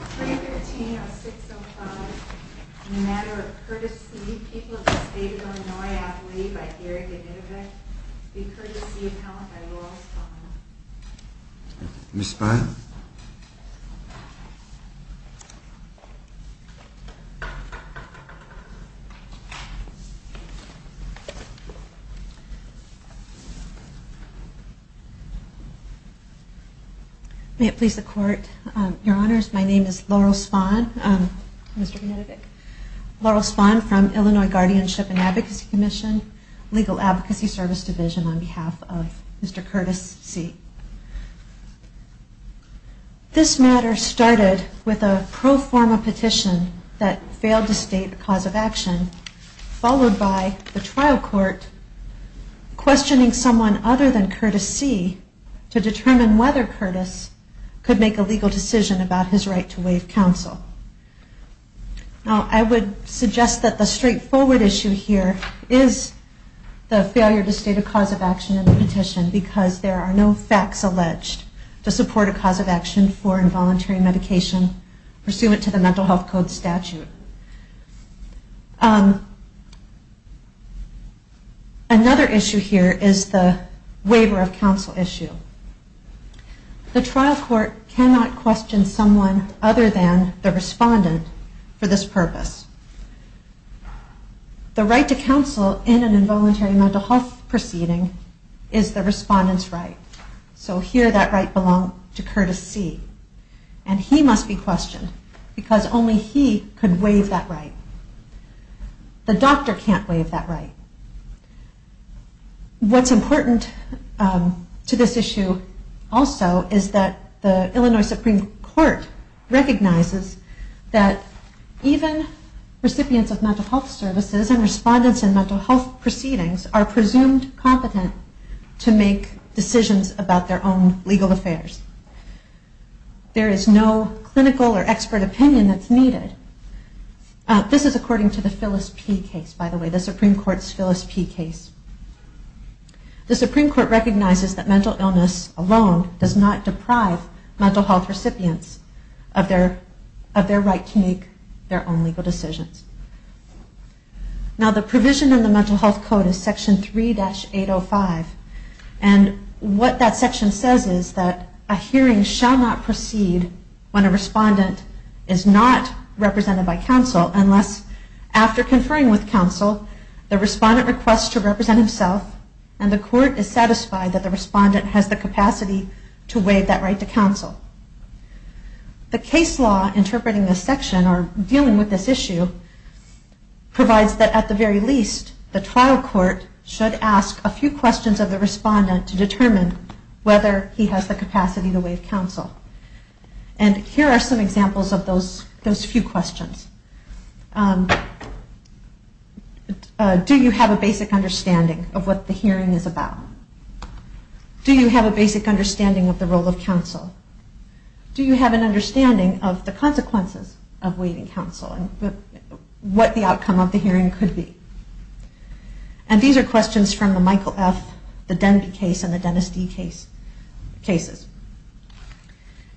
People of the State of Illinois, I believe, I here at the Inuit, be Kurtis C. Appellant by Laurel Spine. Ms. Spine? May it please the Court, Your Honors, my name is Laurel Spine. Mr. Venedig. Laurel Spine from Illinois Guardianship and Advocacy Commission, Legal Advocacy Service Division on behalf of Mr. Kurtis C. This matter started with a pro forma petition that failed to state the cause of action, followed by the trial court questioning someone other than Kurtis C. to determine whether Kurtis could make a legal decision about his right to waive counsel. I would suggest that the straightforward issue here is the failure to state a cause of action in the petition because there are no facts alleged to support a cause of action for involuntary medication pursuant to the Mental Health Code statute. Another issue here is the waiver of counsel issue. The trial court cannot question someone other than the respondent for this purpose. The right to counsel in an involuntary mental health proceeding is the respondent's right. So here that right belonged to Kurtis C. And he must be questioned because only he could waive that right. The doctor can't waive that right. What's important to this issue also is that the Illinois Supreme Court recognizes that even recipients of mental health services and respondents in mental health proceedings are presumed competent to make decisions about their own legal affairs. There is no clinical or expert opinion that's needed. This is according to the Phyllis P. case, by the way, the Supreme Court's Phyllis P. case. The Supreme Court recognizes that mental illness alone does not deprive mental health recipients of their right to make their own legal decisions. Now the provision in the Mental Health Code is Section 3-805. And what that section says is that a hearing shall not proceed when a respondent is not represented by counsel unless, after conferring with counsel, the respondent requests to represent himself and the court is satisfied that the respondent has the capacity to waive that right to counsel. The case law interpreting this section, or dealing with this issue, provides that, at the very least, the trial court should ask a few questions of the respondent to determine whether he has the capacity to waive counsel. And here are some examples of those few questions. Do you have a basic understanding of what the hearing is about? Do you have a basic understanding of the role of counsel? Do you have an understanding of the consequences of waiving counsel and what the outcome of the hearing could be? And these are questions from the Michael F., the Denby case, and the Dennis D. cases.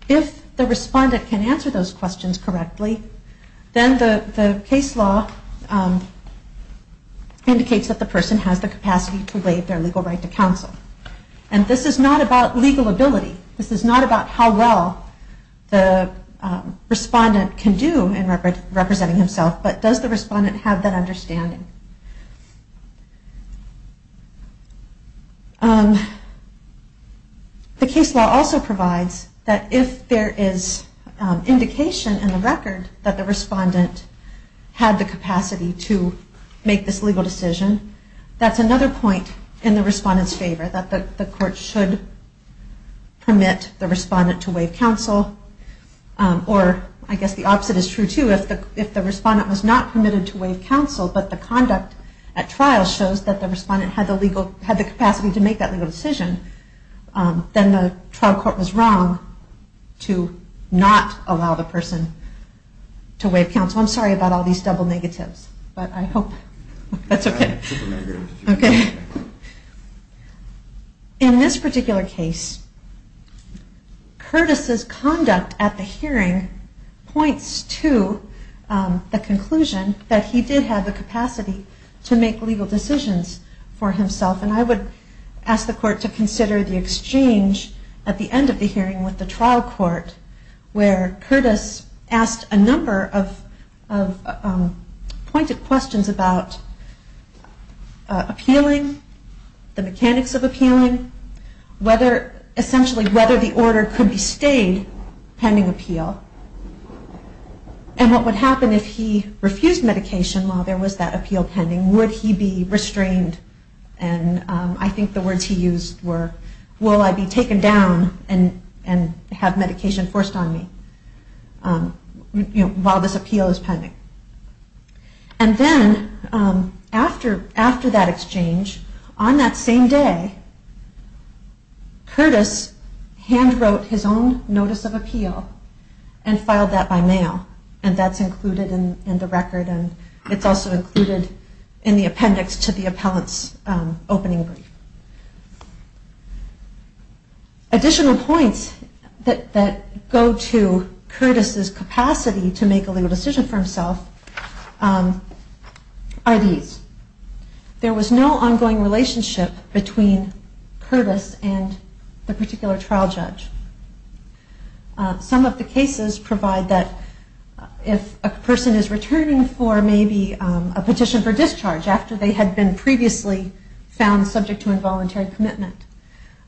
If the respondent can answer those questions correctly, then the case law indicates that the person has the capacity to waive their legal right to counsel. And this is not about legal ability. This is not about how well the respondent can do in representing himself, but does the respondent have that understanding? The case law also provides that if there is indication in the record that the respondent had the capacity to make this legal decision, that's another point in the respondent's favor, that the court should permit the respondent to waive counsel. Or I guess the opposite is true, too. If the respondent was not permitted to waive counsel, but the conduct at trial shows that the respondent had the capacity to make that legal decision, then the trial court was wrong to not allow the person to waive counsel. I'm sorry about all these double negatives, but I hope that's okay. In this particular case, Curtis' conduct at the hearing points to the conclusion that he did have the capacity to make legal decisions for himself, and I would ask the court to consider the exchange at the end of the hearing with the trial court where Curtis asked a number of pointed questions about appealing, the mechanics of appealing, essentially whether the order could be stayed pending appeal, and what would happen if he refused medication while there was that appeal pending. Would he be restrained? I think the words he used were, will I be taken down and have medication forced on me while this appeal is pending? And then after that exchange, on that same day, Curtis hand wrote his own notice of appeal and filed that by mail, and that's included in the record, and it's also included in the appendix to the appellant's opening brief. Additional points that go to Curtis' capacity to make a legal decision for himself are these. There was no ongoing relationship between Curtis and the particular trial judge. Some of the cases provide that if a person is returning for maybe a petition for discharge after they had been previously found subject to involuntary commitment,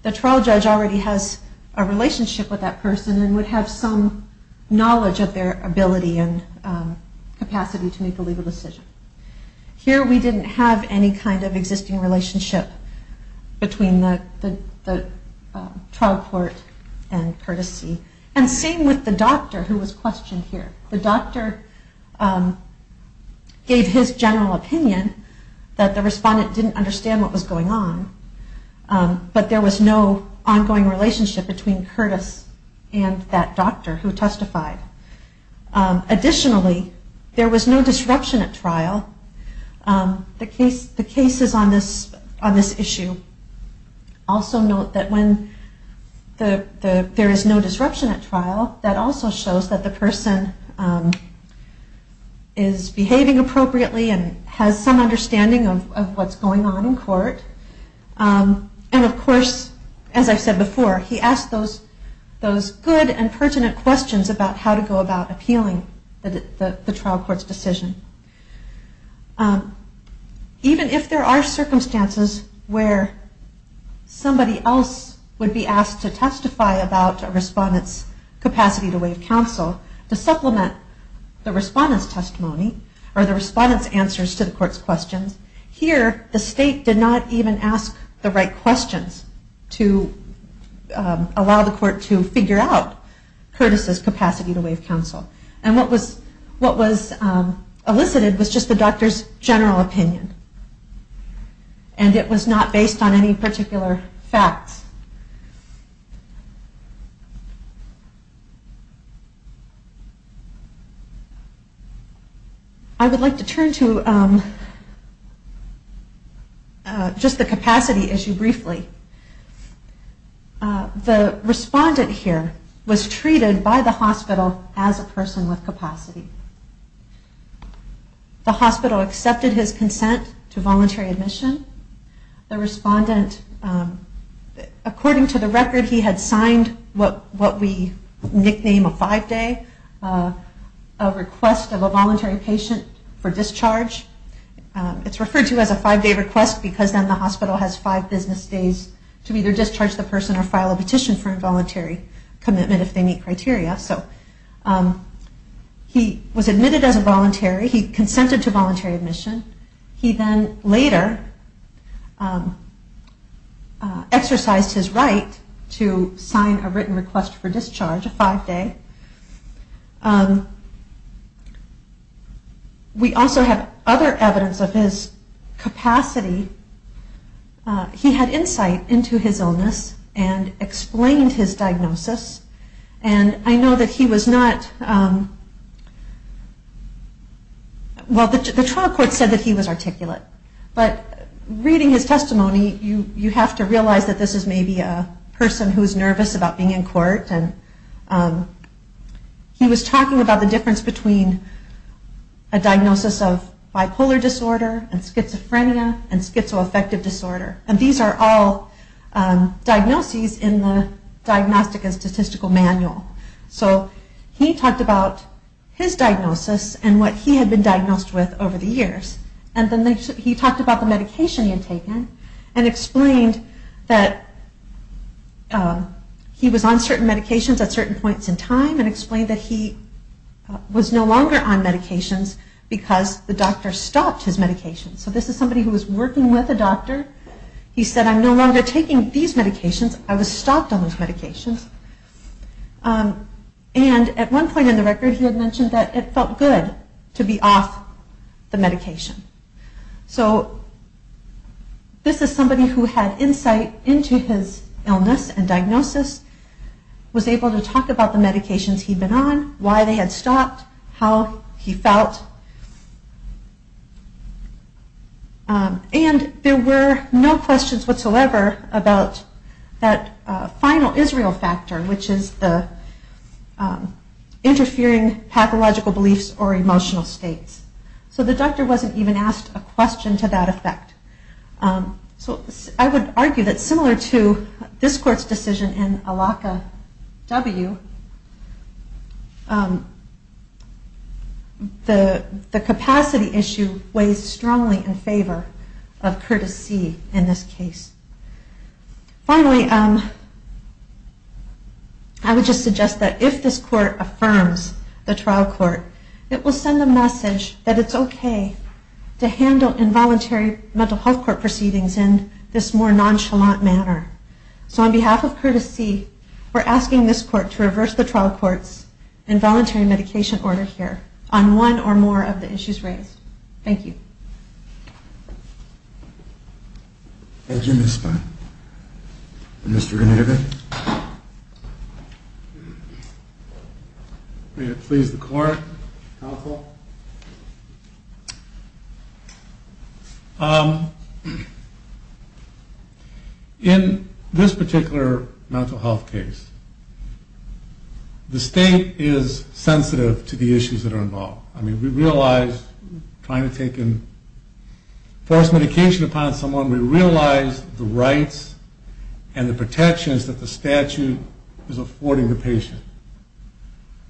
the trial judge already has a relationship with that person and would have some knowledge of their ability and capacity to make a legal decision. Here we didn't have any kind of existing relationship between the trial court and Curtis C. And same with the doctor who was questioned here. The doctor gave his general opinion that the respondent didn't understand what was going on, but there was no ongoing relationship between Curtis and that doctor who testified. Additionally, there was no disruption at trial. The cases on this issue also note that when there is no disruption at trial, that also shows that the person is behaving appropriately and has some understanding of what's going on in court. And of course, as I said before, he asked those good and pertinent questions about how to go about appealing the trial court's decision. Even if there are circumstances where somebody else would be asked to testify about a respondent's capacity to waive counsel, to supplement the respondent's testimony or the respondent's answers to the court's questions, here the state did not even ask the right questions to allow the court to figure out Curtis' capacity to waive counsel. And what was elicited was just the doctor's general opinion. And it was not based on any particular facts. I would like to turn to just the capacity issue briefly. The respondent here was treated by the hospital as a person with capacity. The hospital accepted his consent to voluntary admission. The respondent, according to the record, he had signed what we nickname a five-day request of a voluntary patient for discharge. It's referred to as a five-day request because then the hospital has five business days to either discharge the person or file a petition for involuntary commitment if they meet criteria. So he was admitted as a voluntary. He consented to voluntary admission. He then later exercised his right to sign a written request for discharge, a five-day. We also have other evidence of his capacity. He had insight into his illness and explained his diagnosis. And I know that he was not... Well, the trial court said that he was articulate. But reading his testimony, you have to realize that this is maybe a person who is nervous about being in court. He was talking about the difference between a diagnosis of bipolar disorder and schizophrenia and schizoaffective disorder. And these are all diagnoses in the Diagnostica Statistical Manual. So he talked about his diagnosis and what he had been diagnosed with over the years. And then he talked about the medication he had taken and explained that he was on certain medications at certain points in time and explained that he was no longer on medications because the doctor stopped his medication. So this is somebody who was working with a doctor. He said, I'm no longer taking these medications. I was stopped on those medications. And at one point in the record, he had mentioned that it felt good to be off the medication. So this is somebody who had insight into his illness and diagnosis, was able to talk about the medications he'd been on, why they had stopped, how he felt. And there were no questions whatsoever about that final Israel factor, which is the interfering pathological beliefs or emotional states. So the doctor wasn't even asked a question to that effect. So I would argue that similar to this court's decision in ALACA-W, the capacity issue weighs strongly in favor of courtesy in this case. Finally, I would just suggest that if this court affirms the trial court, it will send a message that it's okay to handle involuntary mental health court proceedings in this more nonchalant manner. So on behalf of courtesy, we're asking this court to reverse the trial court's involuntary medication order here on one or more of the issues raised. Thank you. Thank you, Ms. Spahn. Mr. Renatovich? May it please the court, counsel. In this particular mental health case, the state is sensitive to the issues that are involved. I mean, we realize trying to take in forced medication upon someone, we realize the rights and the protections that the statute is affording the patient.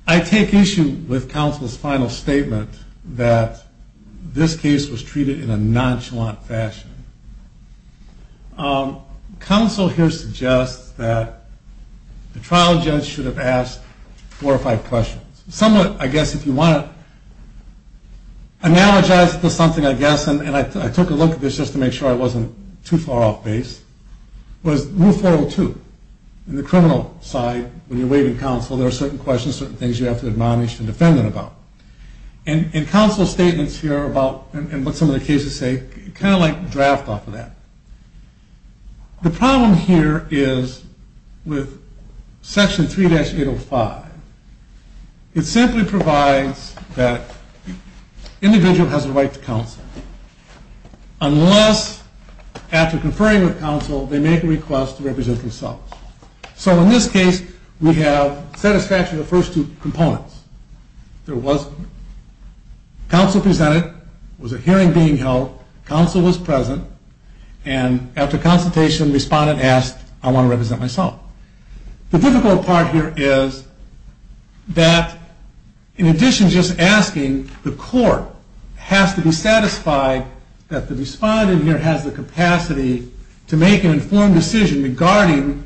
I take issue with counsel's final statement that this case was treated in a nonchalant fashion. Counsel here suggests that the trial judge should have asked four or five questions. Somewhat, I guess, if you want to analogize it to something, I guess, and I took a look at this just to make sure I wasn't too far off base, was Rule 402. In the criminal side, when you're waiving counsel, there are certain questions, certain things you have to admonish the defendant about. And counsel's statements here about what some of the cases say kind of draft off of that. The problem here is with Section 3-805. It simply provides that an individual has a right to counsel unless after conferring with counsel, they make a request to represent themselves. So in this case, we have satisfaction of the first two components. There was counsel presented, there was a hearing being held, counsel was present, and after consultation, the respondent asked, I want to represent myself. The difficult part here is that in addition to just asking, the court has to be satisfied that the respondent here has the capacity to make an informed decision regarding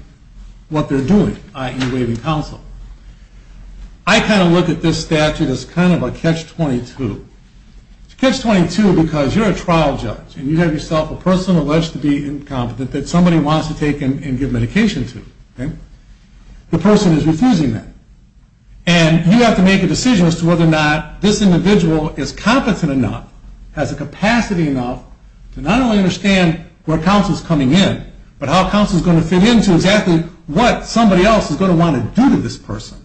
what they're doing, i.e., waiving counsel. I kind of look at this statute as kind of a catch-22. It's a catch-22 because you're a trial judge, and you have yourself a person alleged to be incompetent that somebody wants to take and give medication to. The person is refusing that. And you have to make a decision as to whether or not this individual is competent enough, has the capacity enough to not only understand where counsel's coming in, but how counsel's going to fit into exactly what somebody else is going to want to do to this person.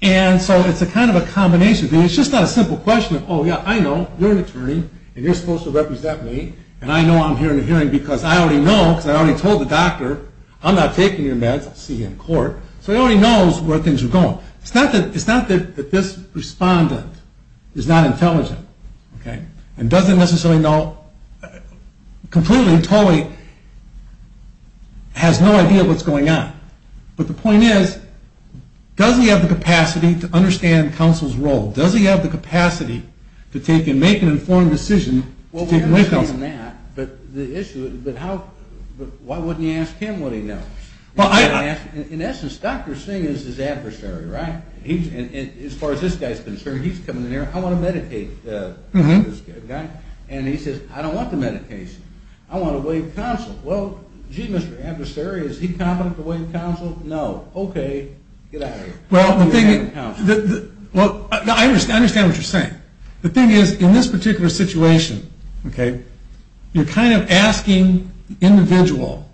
And so it's a kind of a combination. It's just not a simple question of, oh, yeah, I know, you're an attorney, and you're supposed to represent me, and I know I'm here in a hearing because I already know, because I already told the doctor, I'm not taking your meds. I'll see you in court. So he already knows where things are going. It's not that this respondent is not intelligent and doesn't necessarily know completely, totally has no idea what's going on. But the point is, does he have the capacity to understand counsel's role? Does he have the capacity to take and make an informed decision? Well, we haven't seen that. But the issue is, why wouldn't he ask him what he knows? In essence, Dr. Singh is his adversary, right? As far as this guy's concerned, he's coming in here, I want to medicate this guy. And he says, I don't want the medication. I want to waive counsel. Well, gee, Mr. Adversary, is he competent to waive counsel? No. Okay. Get out of here. Well, I understand what you're saying. The thing is, in this particular situation, okay, you're kind of asking the individual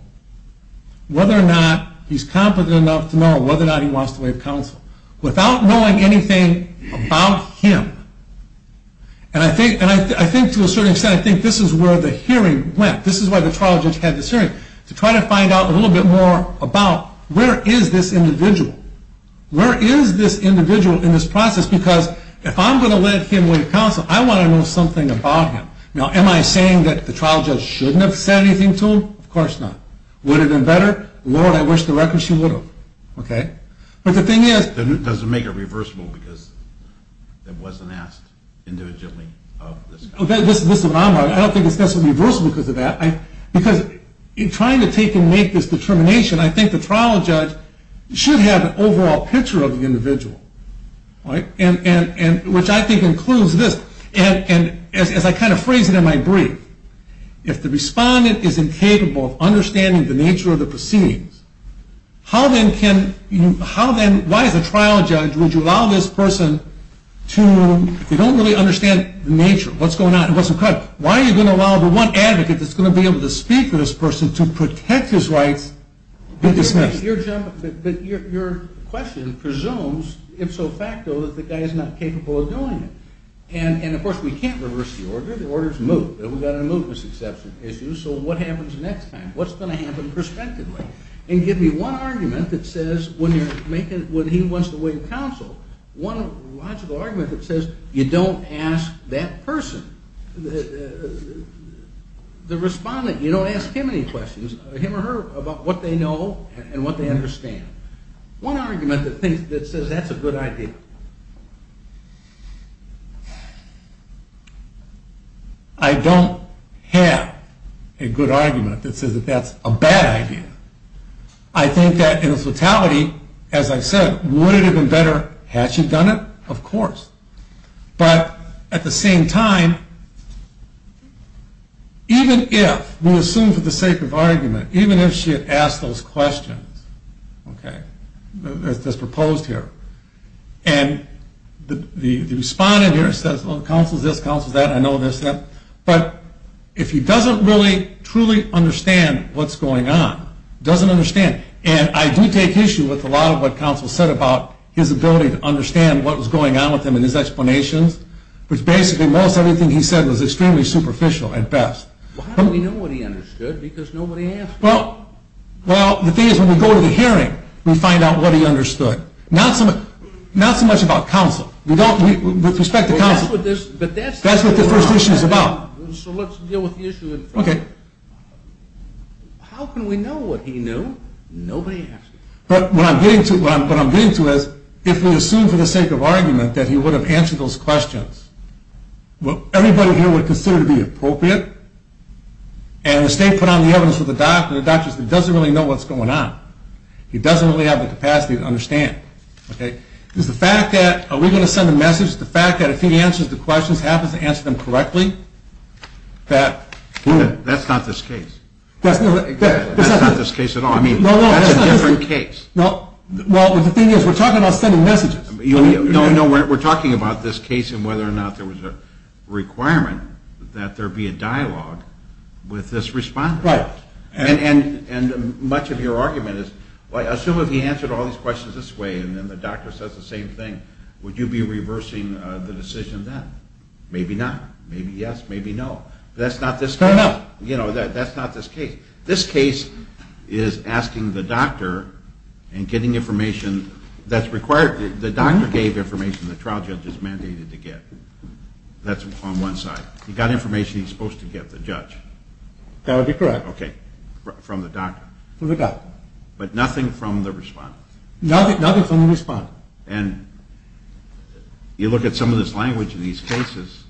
whether or not he's competent enough to know whether or not he wants to waive counsel without knowing anything about him. And I think to a certain extent, I think this is where the hearing went. This is why the trial judge had this hearing, to try to find out a little bit more about where is this individual? Where is this individual in this process? Because if I'm going to let him waive counsel, I want to know something about him. Now, am I saying that the trial judge shouldn't have said anything to him? Of course not. Would it have been better? Lord, I wish the record she would have. Okay. But the thing is, It doesn't make it reversible because it wasn't asked individually of this guy. This is what I'm talking about. I don't think it's necessarily reversible because of that. Because in trying to take and make this determination, I think the trial judge should have an overall picture of the individual, which I think includes this. And as I kind of phrase it in my brief, if the respondent is incapable of understanding the nature of the proceedings, how then can you, how then, why as a trial judge, would you allow this person to, if they don't really understand the nature, what's going on, what's the problem, why are you going to allow the one advocate that's going to be able to speak for this person to protect his rights to be dismissed? But your question presumes, if so facto, that the guy is not capable of doing it. And, of course, we can't reverse the order. The order's moved. We've got to move this exception issue. So what happens next time? What's going to happen prospectively? And give me one argument that says when he wants to waive counsel, one logical argument that says you don't ask that person, the respondent, you don't ask him any questions, him or her, about what they know and what they understand. One argument that says that's a good idea. I don't have a good argument that says that that's a bad idea. I think that in its totality, as I said, would it have been better had she done it? Of course. But at the same time, even if, we'll assume for the sake of argument, even if she had asked those questions, okay, as proposed here, and the respondent here says, well, counsel's this, counsel's that, I know this, that. But if he doesn't really truly understand what's going on, doesn't understand, and I do take issue with a lot of what counsel said about his ability to understand what was going on with him and his explanations, which basically most everything he said was extremely superficial at best. Well, how do we know what he understood? Because nobody asked him. Well, the thing is when we go to the hearing, we find out what he understood. Not so much about counsel. With respect to counsel, that's what the first issue is about. So let's deal with the issue. Okay. How can we know what he knew? Nobody asked him. But what I'm getting to is if we assume for the sake of argument that he would have answered those questions, what everybody here would consider to be appropriate, and the state put on the evidence for the doctor, the doctor doesn't really know what's going on. He doesn't really have the capacity to understand. Is the fact that we're going to send a message, the fact that if he answers the questions, happens to answer them correctly, that... That's not this case. That's not this case at all. I mean, that's a different case. Well, the thing is we're talking about sending messages. No, no, we're talking about this case and whether or not there was a requirement that there be a dialogue with this respondent. Right. And much of your argument is, well, assume if he answered all these questions this way and then the doctor says the same thing, would you be reversing the decision then? Maybe not. Maybe yes, maybe no. That's not this case. No, no. You know, that's not this case. This case is asking the doctor and getting information that's required. The doctor gave information the trial judge is mandated to get. That's on one side. He got information he's supposed to get, the judge. That would be correct. Okay, from the doctor. From the doctor. But nothing from the respondent. Nothing from the respondent. And you look at some of this language in these cases.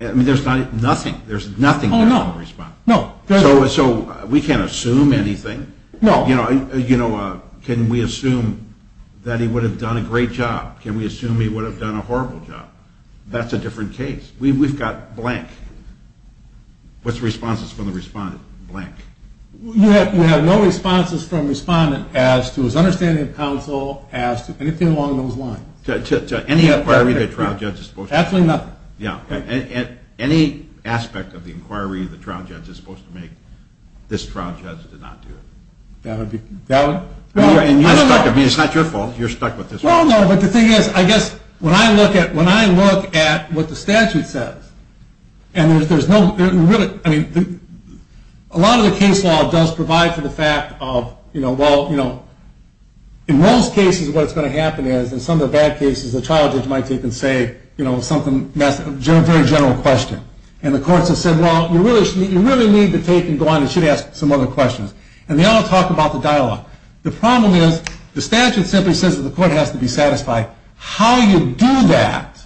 I mean, there's nothing. There's nothing there from the respondent. No. So we can't assume anything. No. You know, can we assume that he would have done a great job? Can we assume he would have done a horrible job? That's a different case. We've got blank. What's the responses from the respondent? Blank. You have no responses from respondent as to his understanding of counsel, as to anything along those lines. To any inquiry the trial judge is supposed to make. Absolutely nothing. Yeah. Any aspect of the inquiry the trial judge is supposed to make, this trial judge did not do it. That would be correct. I mean, it's not your fault. You're stuck with this one. No, no. But the thing is, I guess, when I look at what the statute says, and there's no really, I mean, a lot of the case law does provide for the fact of, you know, well, you know, in most cases what's going to happen is, in some of the bad cases, the trial judge might take and say, you know, something, a very general question. And the courts have said, well, you really need to take and go on. You should ask some other questions. And they all talk about the dialogue. The problem is the statute simply says that the court has to be satisfied. How you do that,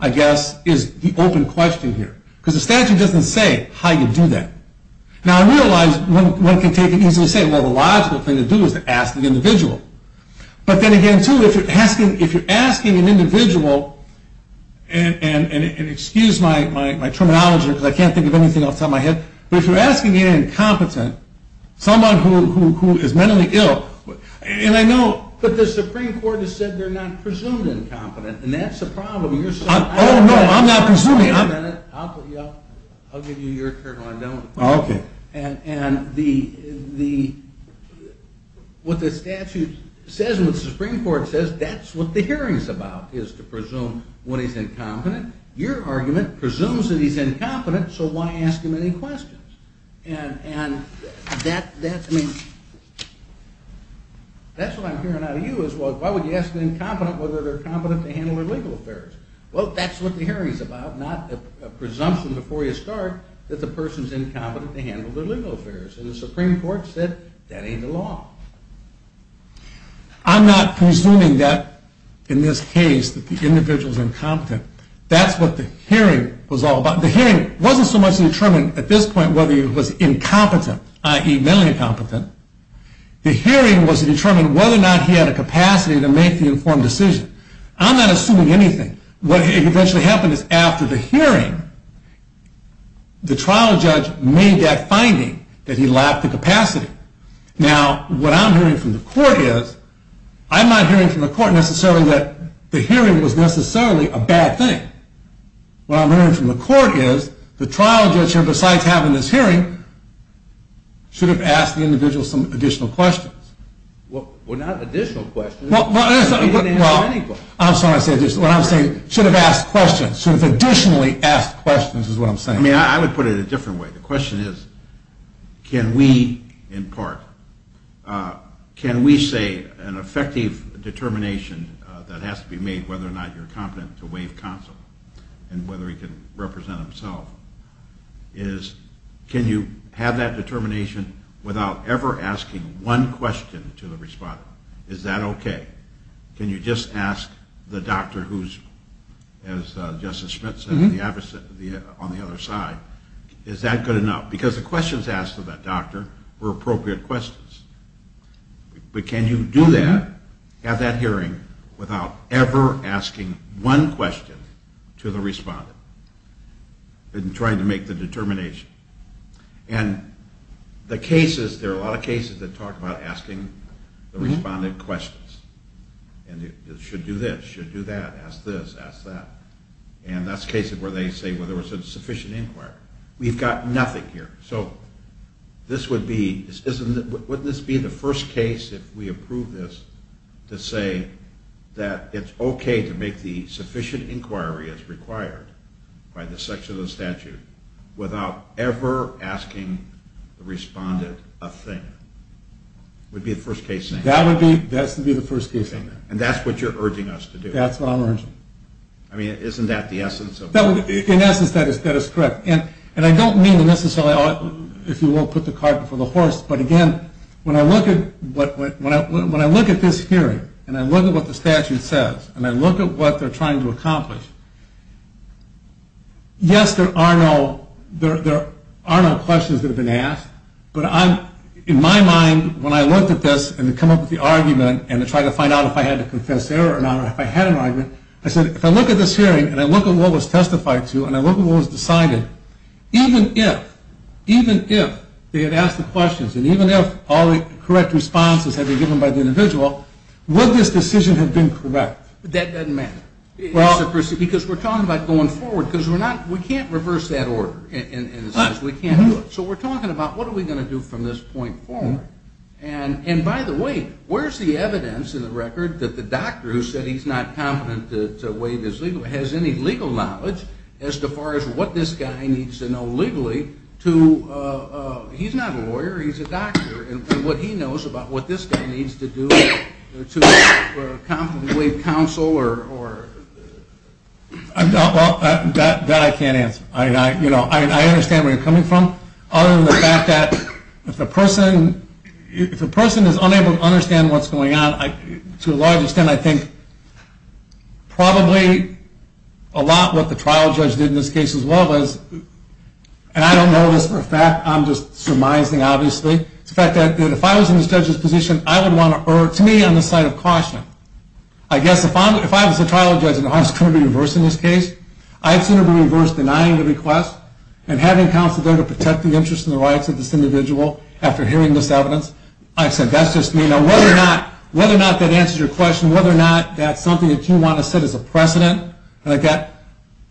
I guess, is the open question here. Because the statute doesn't say how you do that. Now, I realize one can take and easily say, well, the logical thing to do is to ask the individual. But then again, too, if you're asking an individual, and excuse my terminology because I can't think of anything off the top of my head, but if you're asking an incompetent, someone who is mentally ill, and I know. But the Supreme Court has said they're not presumed incompetent. And that's a problem. Oh, no, I'm not presuming. I'll give you your turn when I'm done with the problem. Okay. And what the statute says and what the Supreme Court says, that's what the hearing's about, is to presume what is incompetent. Your argument presumes that he's incompetent, so why ask him any questions? And that's what I'm hearing out of you is, well, why would you ask an incompetent whether they're competent to handle their legal affairs? Well, that's what the hearing's about, not a presumption before you start that the person's incompetent to handle their legal affairs. And the Supreme Court said that ain't the law. I'm not presuming that, in this case, that the individual's incompetent. That's what the hearing was all about. The hearing wasn't so much to determine, at this point, whether he was incompetent, i.e., mentally incompetent. The hearing was to determine whether or not he had a capacity to make the informed decision. I'm not assuming anything. What eventually happened is, after the hearing, the trial judge made that finding that he lacked the capacity. Now, what I'm hearing from the court is, I'm not hearing from the court necessarily that the hearing was necessarily a bad thing. What I'm hearing from the court is the trial judge here, besides having this hearing, should have asked the individual some additional questions. Well, not additional questions. He didn't answer any questions. I'm sorry, I said additional. What I'm saying, should have asked questions, should have additionally asked questions is what I'm saying. I mean, I would put it a different way. The question is, can we, in part, can we say an effective determination that has to be made whether or not you're competent to waive counsel and whether he can represent himself is, can you have that determination without ever asking one question to the respondent? Is that okay? Can you just ask the doctor who's, as Justice Schmidt said, on the other side, is that good enough? Because the questions asked of that doctor were appropriate questions. But can you do that, have that hearing, without ever asking one question to the respondent in trying to make the determination? And the cases, there are a lot of cases that talk about asking the respondent questions. And they should do this, should do that, ask this, ask that. And that's cases where they say, well, there was a sufficient inquiry. We've got nothing here. So this would be, wouldn't this be the first case, if we approve this, to say that it's okay to make the sufficient inquiry as required by the section of the statute without ever asking the respondent a thing? It would be the first case. That would be, that would be the first case. And that's what you're urging us to do. That's what I'm urging. I mean, isn't that the essence of it? In essence, that is correct. And I don't mean to necessarily, if you will, put the cart before the horse. But, again, when I look at this hearing and I look at what the statute says and I look at what they're trying to accomplish, yes, there are no questions that have been asked. But in my mind, when I looked at this and come up with the argument and try to find out if I had to confess error or not or if I had an argument, I said, if I look at this hearing and I look at what was testified to and I even if they had asked the questions and even if all the correct responses had been given by the individual, would this decision have been correct? That doesn't matter. Because we're talking about going forward because we're not, we can't reverse that order in a sense. We can't do it. So we're talking about what are we going to do from this point forward? And, by the way, where's the evidence in the record that the doctor who said he's not competent to waive his legal, has any legal knowledge as far as what this guy needs to know legally to, he's not a lawyer, he's a doctor, and what he knows about what this guy needs to do to competently counsel or? Well, that I can't answer. I understand where you're coming from. Other than the fact that if a person is unable to understand what's going on, to a large extent I think probably a lot what the trial judge did in this case as well as, and I don't know this for a fact, I'm just surmising obviously, is the fact that if I was in this judge's position I would want to, or to me on the side of caution, I guess if I was a trial judge and I was going to be reversed in this case, I'd sooner be reversed denying the request and having counsel there to protect the interests and the rights of this individual after hearing this evidence. I said that's just me. Now whether or not that answers your question, whether or not that's something that you want to set as a precedent, again,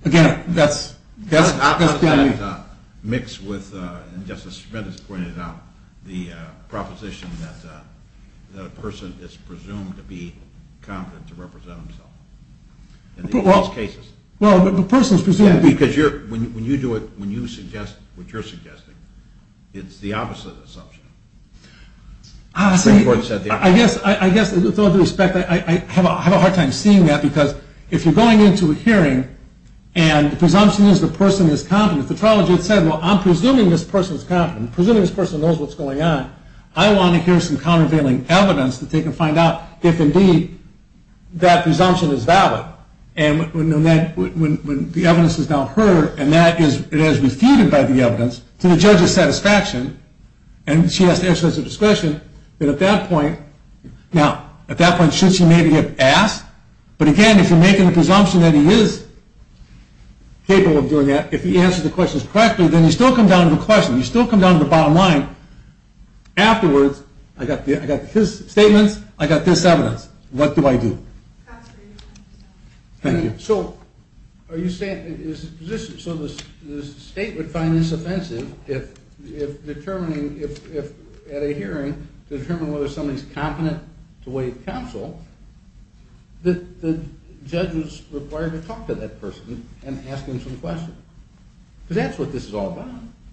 that's just me. That's an opposite mix with, and Justice Schmidt has pointed out, the proposition that a person is presumed to be competent to represent himself. Well, the person is presumed to be. Because when you do it, when you suggest what you're suggesting, it's the opposite assumption. I guess with all due respect, I have a hard time seeing that because if you're going into a hearing and the presumption is the person is competent, the trial judge said, well, I'm presuming this person is competent, I'm presuming this person knows what's going on, I want to hear some countervailing evidence that they can find out if indeed that presumption is valid. And when the evidence is now heard and it is refuted by the evidence, to the judge's satisfaction, and she has to exercise her discretion, then at that point, now, at that point, should she maybe have asked? But again, if you're making the presumption that he is capable of doing that, if he answers the questions correctly, then you still come down to the question. You still come down to the bottom line. Afterwards, I got his statements, I got this evidence. What do I do? Thank you. So the state would find this offensive if at a hearing, to determine whether somebody is competent to waive counsel, the judge is required to talk to that person and ask them some questions. Because that's what this is all about.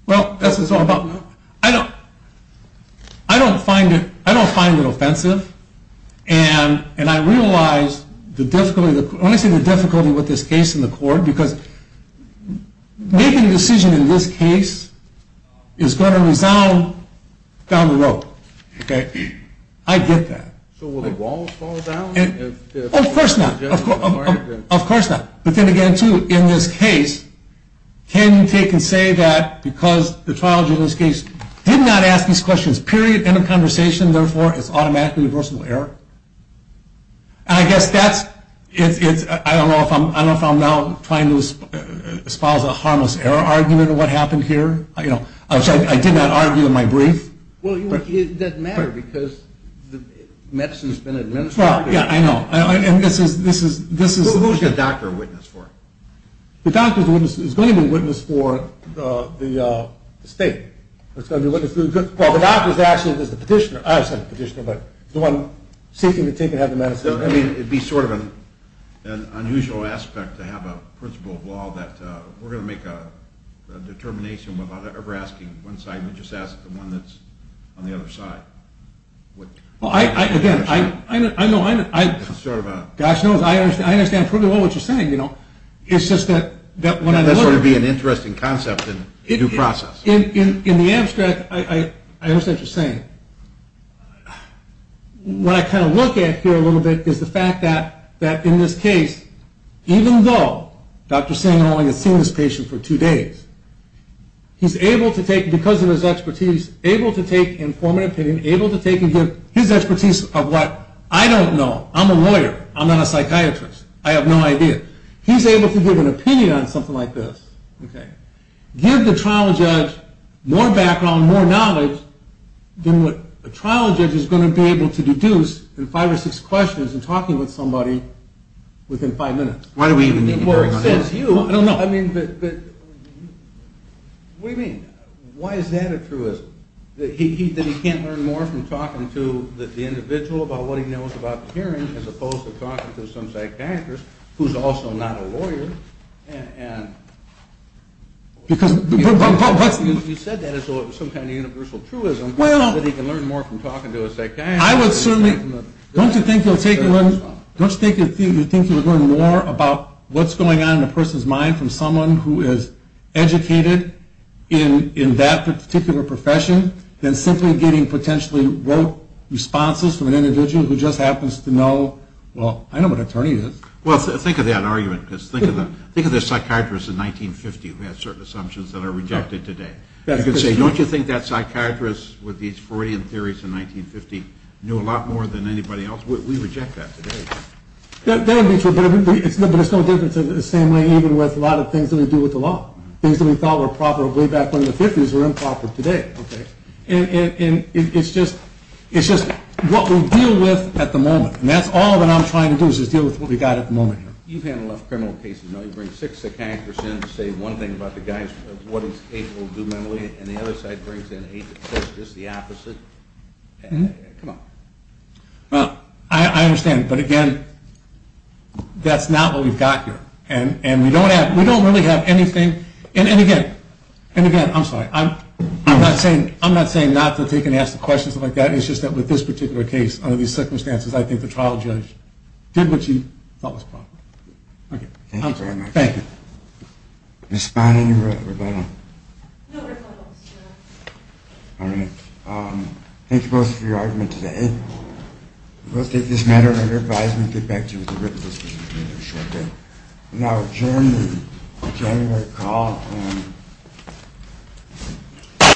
Well, that's what it's all about. I don't find it offensive. And I realize the difficulty, let me say the difficulty with this case in the court, because making a decision in this case is going to resound down the road. Okay? I get that. So will the walls fall down? Of course not. Of course not. But then again, too, in this case, can you take and say that, because the trial judge in this case did not ask these questions, period, end of conversation, therefore, it's automatically reversible error. And I guess that's, I don't know if I'm now trying to espouse a harmless error argument of what happened here. I did not argue in my brief. Well, it doesn't matter because medicine has been administered. Yeah, I know. And this is... Who is the doctor a witness for? The doctor is going to be a witness for the state. Well, the doctor is actually the petitioner. I said the petitioner, but the one seeking to take and have the medicine administered. It would be sort of an unusual aspect to have a principle of law that we're going to make a determination without ever asking one side, we just ask the one that's on the other side. Again, I know... It's sort of a... Gosh, no, I understand pretty well what you're saying, you know. It's just that... That's going to be an interesting concept in due process. In the abstract, I understand what you're saying. What I kind of look at here a little bit is the fact that in this case, even though Dr. Singh only has seen this patient for two days, he's able to take, because of his expertise, able to take and form an opinion, able to take and give his expertise of what I don't know. I'm a lawyer. I'm not a psychiatrist. I have no idea. He's able to give an opinion on something like this. Okay. Give the trial judge more background, more knowledge than what a trial judge is going to be able to deduce in five or six questions in talking with somebody within five minutes. Why do we even need to talk about that? I don't know. I mean, but... What do you mean? Why is that a truism? That he can't learn more from talking to the individual about what he knows about the hearing as opposed to talking to some psychiatrist who's also not a lawyer? Because... You said that as though it was some kind of universal truism. Well... That he can learn more from talking to a psychiatrist. I would certainly... Don't you think you'll take... Don't you think you'll learn more about what's going on in a person's mind from someone who is educated in that particular profession than simply getting potentially rote responses from an individual who just happens to know... Well, I know what an attorney is. Well, think of that argument, because think of the psychiatrist in 1950 who had certain assumptions that are rejected today. You could say, don't you think that psychiatrist with these Freudian theories in 1950 knew a lot more than anybody else? We reject that today. That would be true, but it's no different in the same way even with a lot of things that we do with the law, things that we thought were proper way back when the 50s are improper today. And it's just what we deal with at the moment, and that's all that I'm trying to do is deal with what we've got at the moment. You've handled enough criminal cases. You bring six psychiatrists in to say one thing about the guy, what he's capable of doing mentally, and the other side brings in eight that says just the opposite. Come on. Well, I understand, but again, that's not what we've got here, and we don't really have anything... And again, I'm sorry... I'm not saying not to take and ask the questions like that. It's just that with this particular case, under these circumstances, I think the trial judge did what he thought was proper. Okay. Thank you very much. Thank you. Ms. Spahn, any rebuttals? No rebuttals, no. All right. Thank you both for your argument today. We'll take this matter under advisement and get back to you with a written decision in a short bit. And I will adjourn the January call.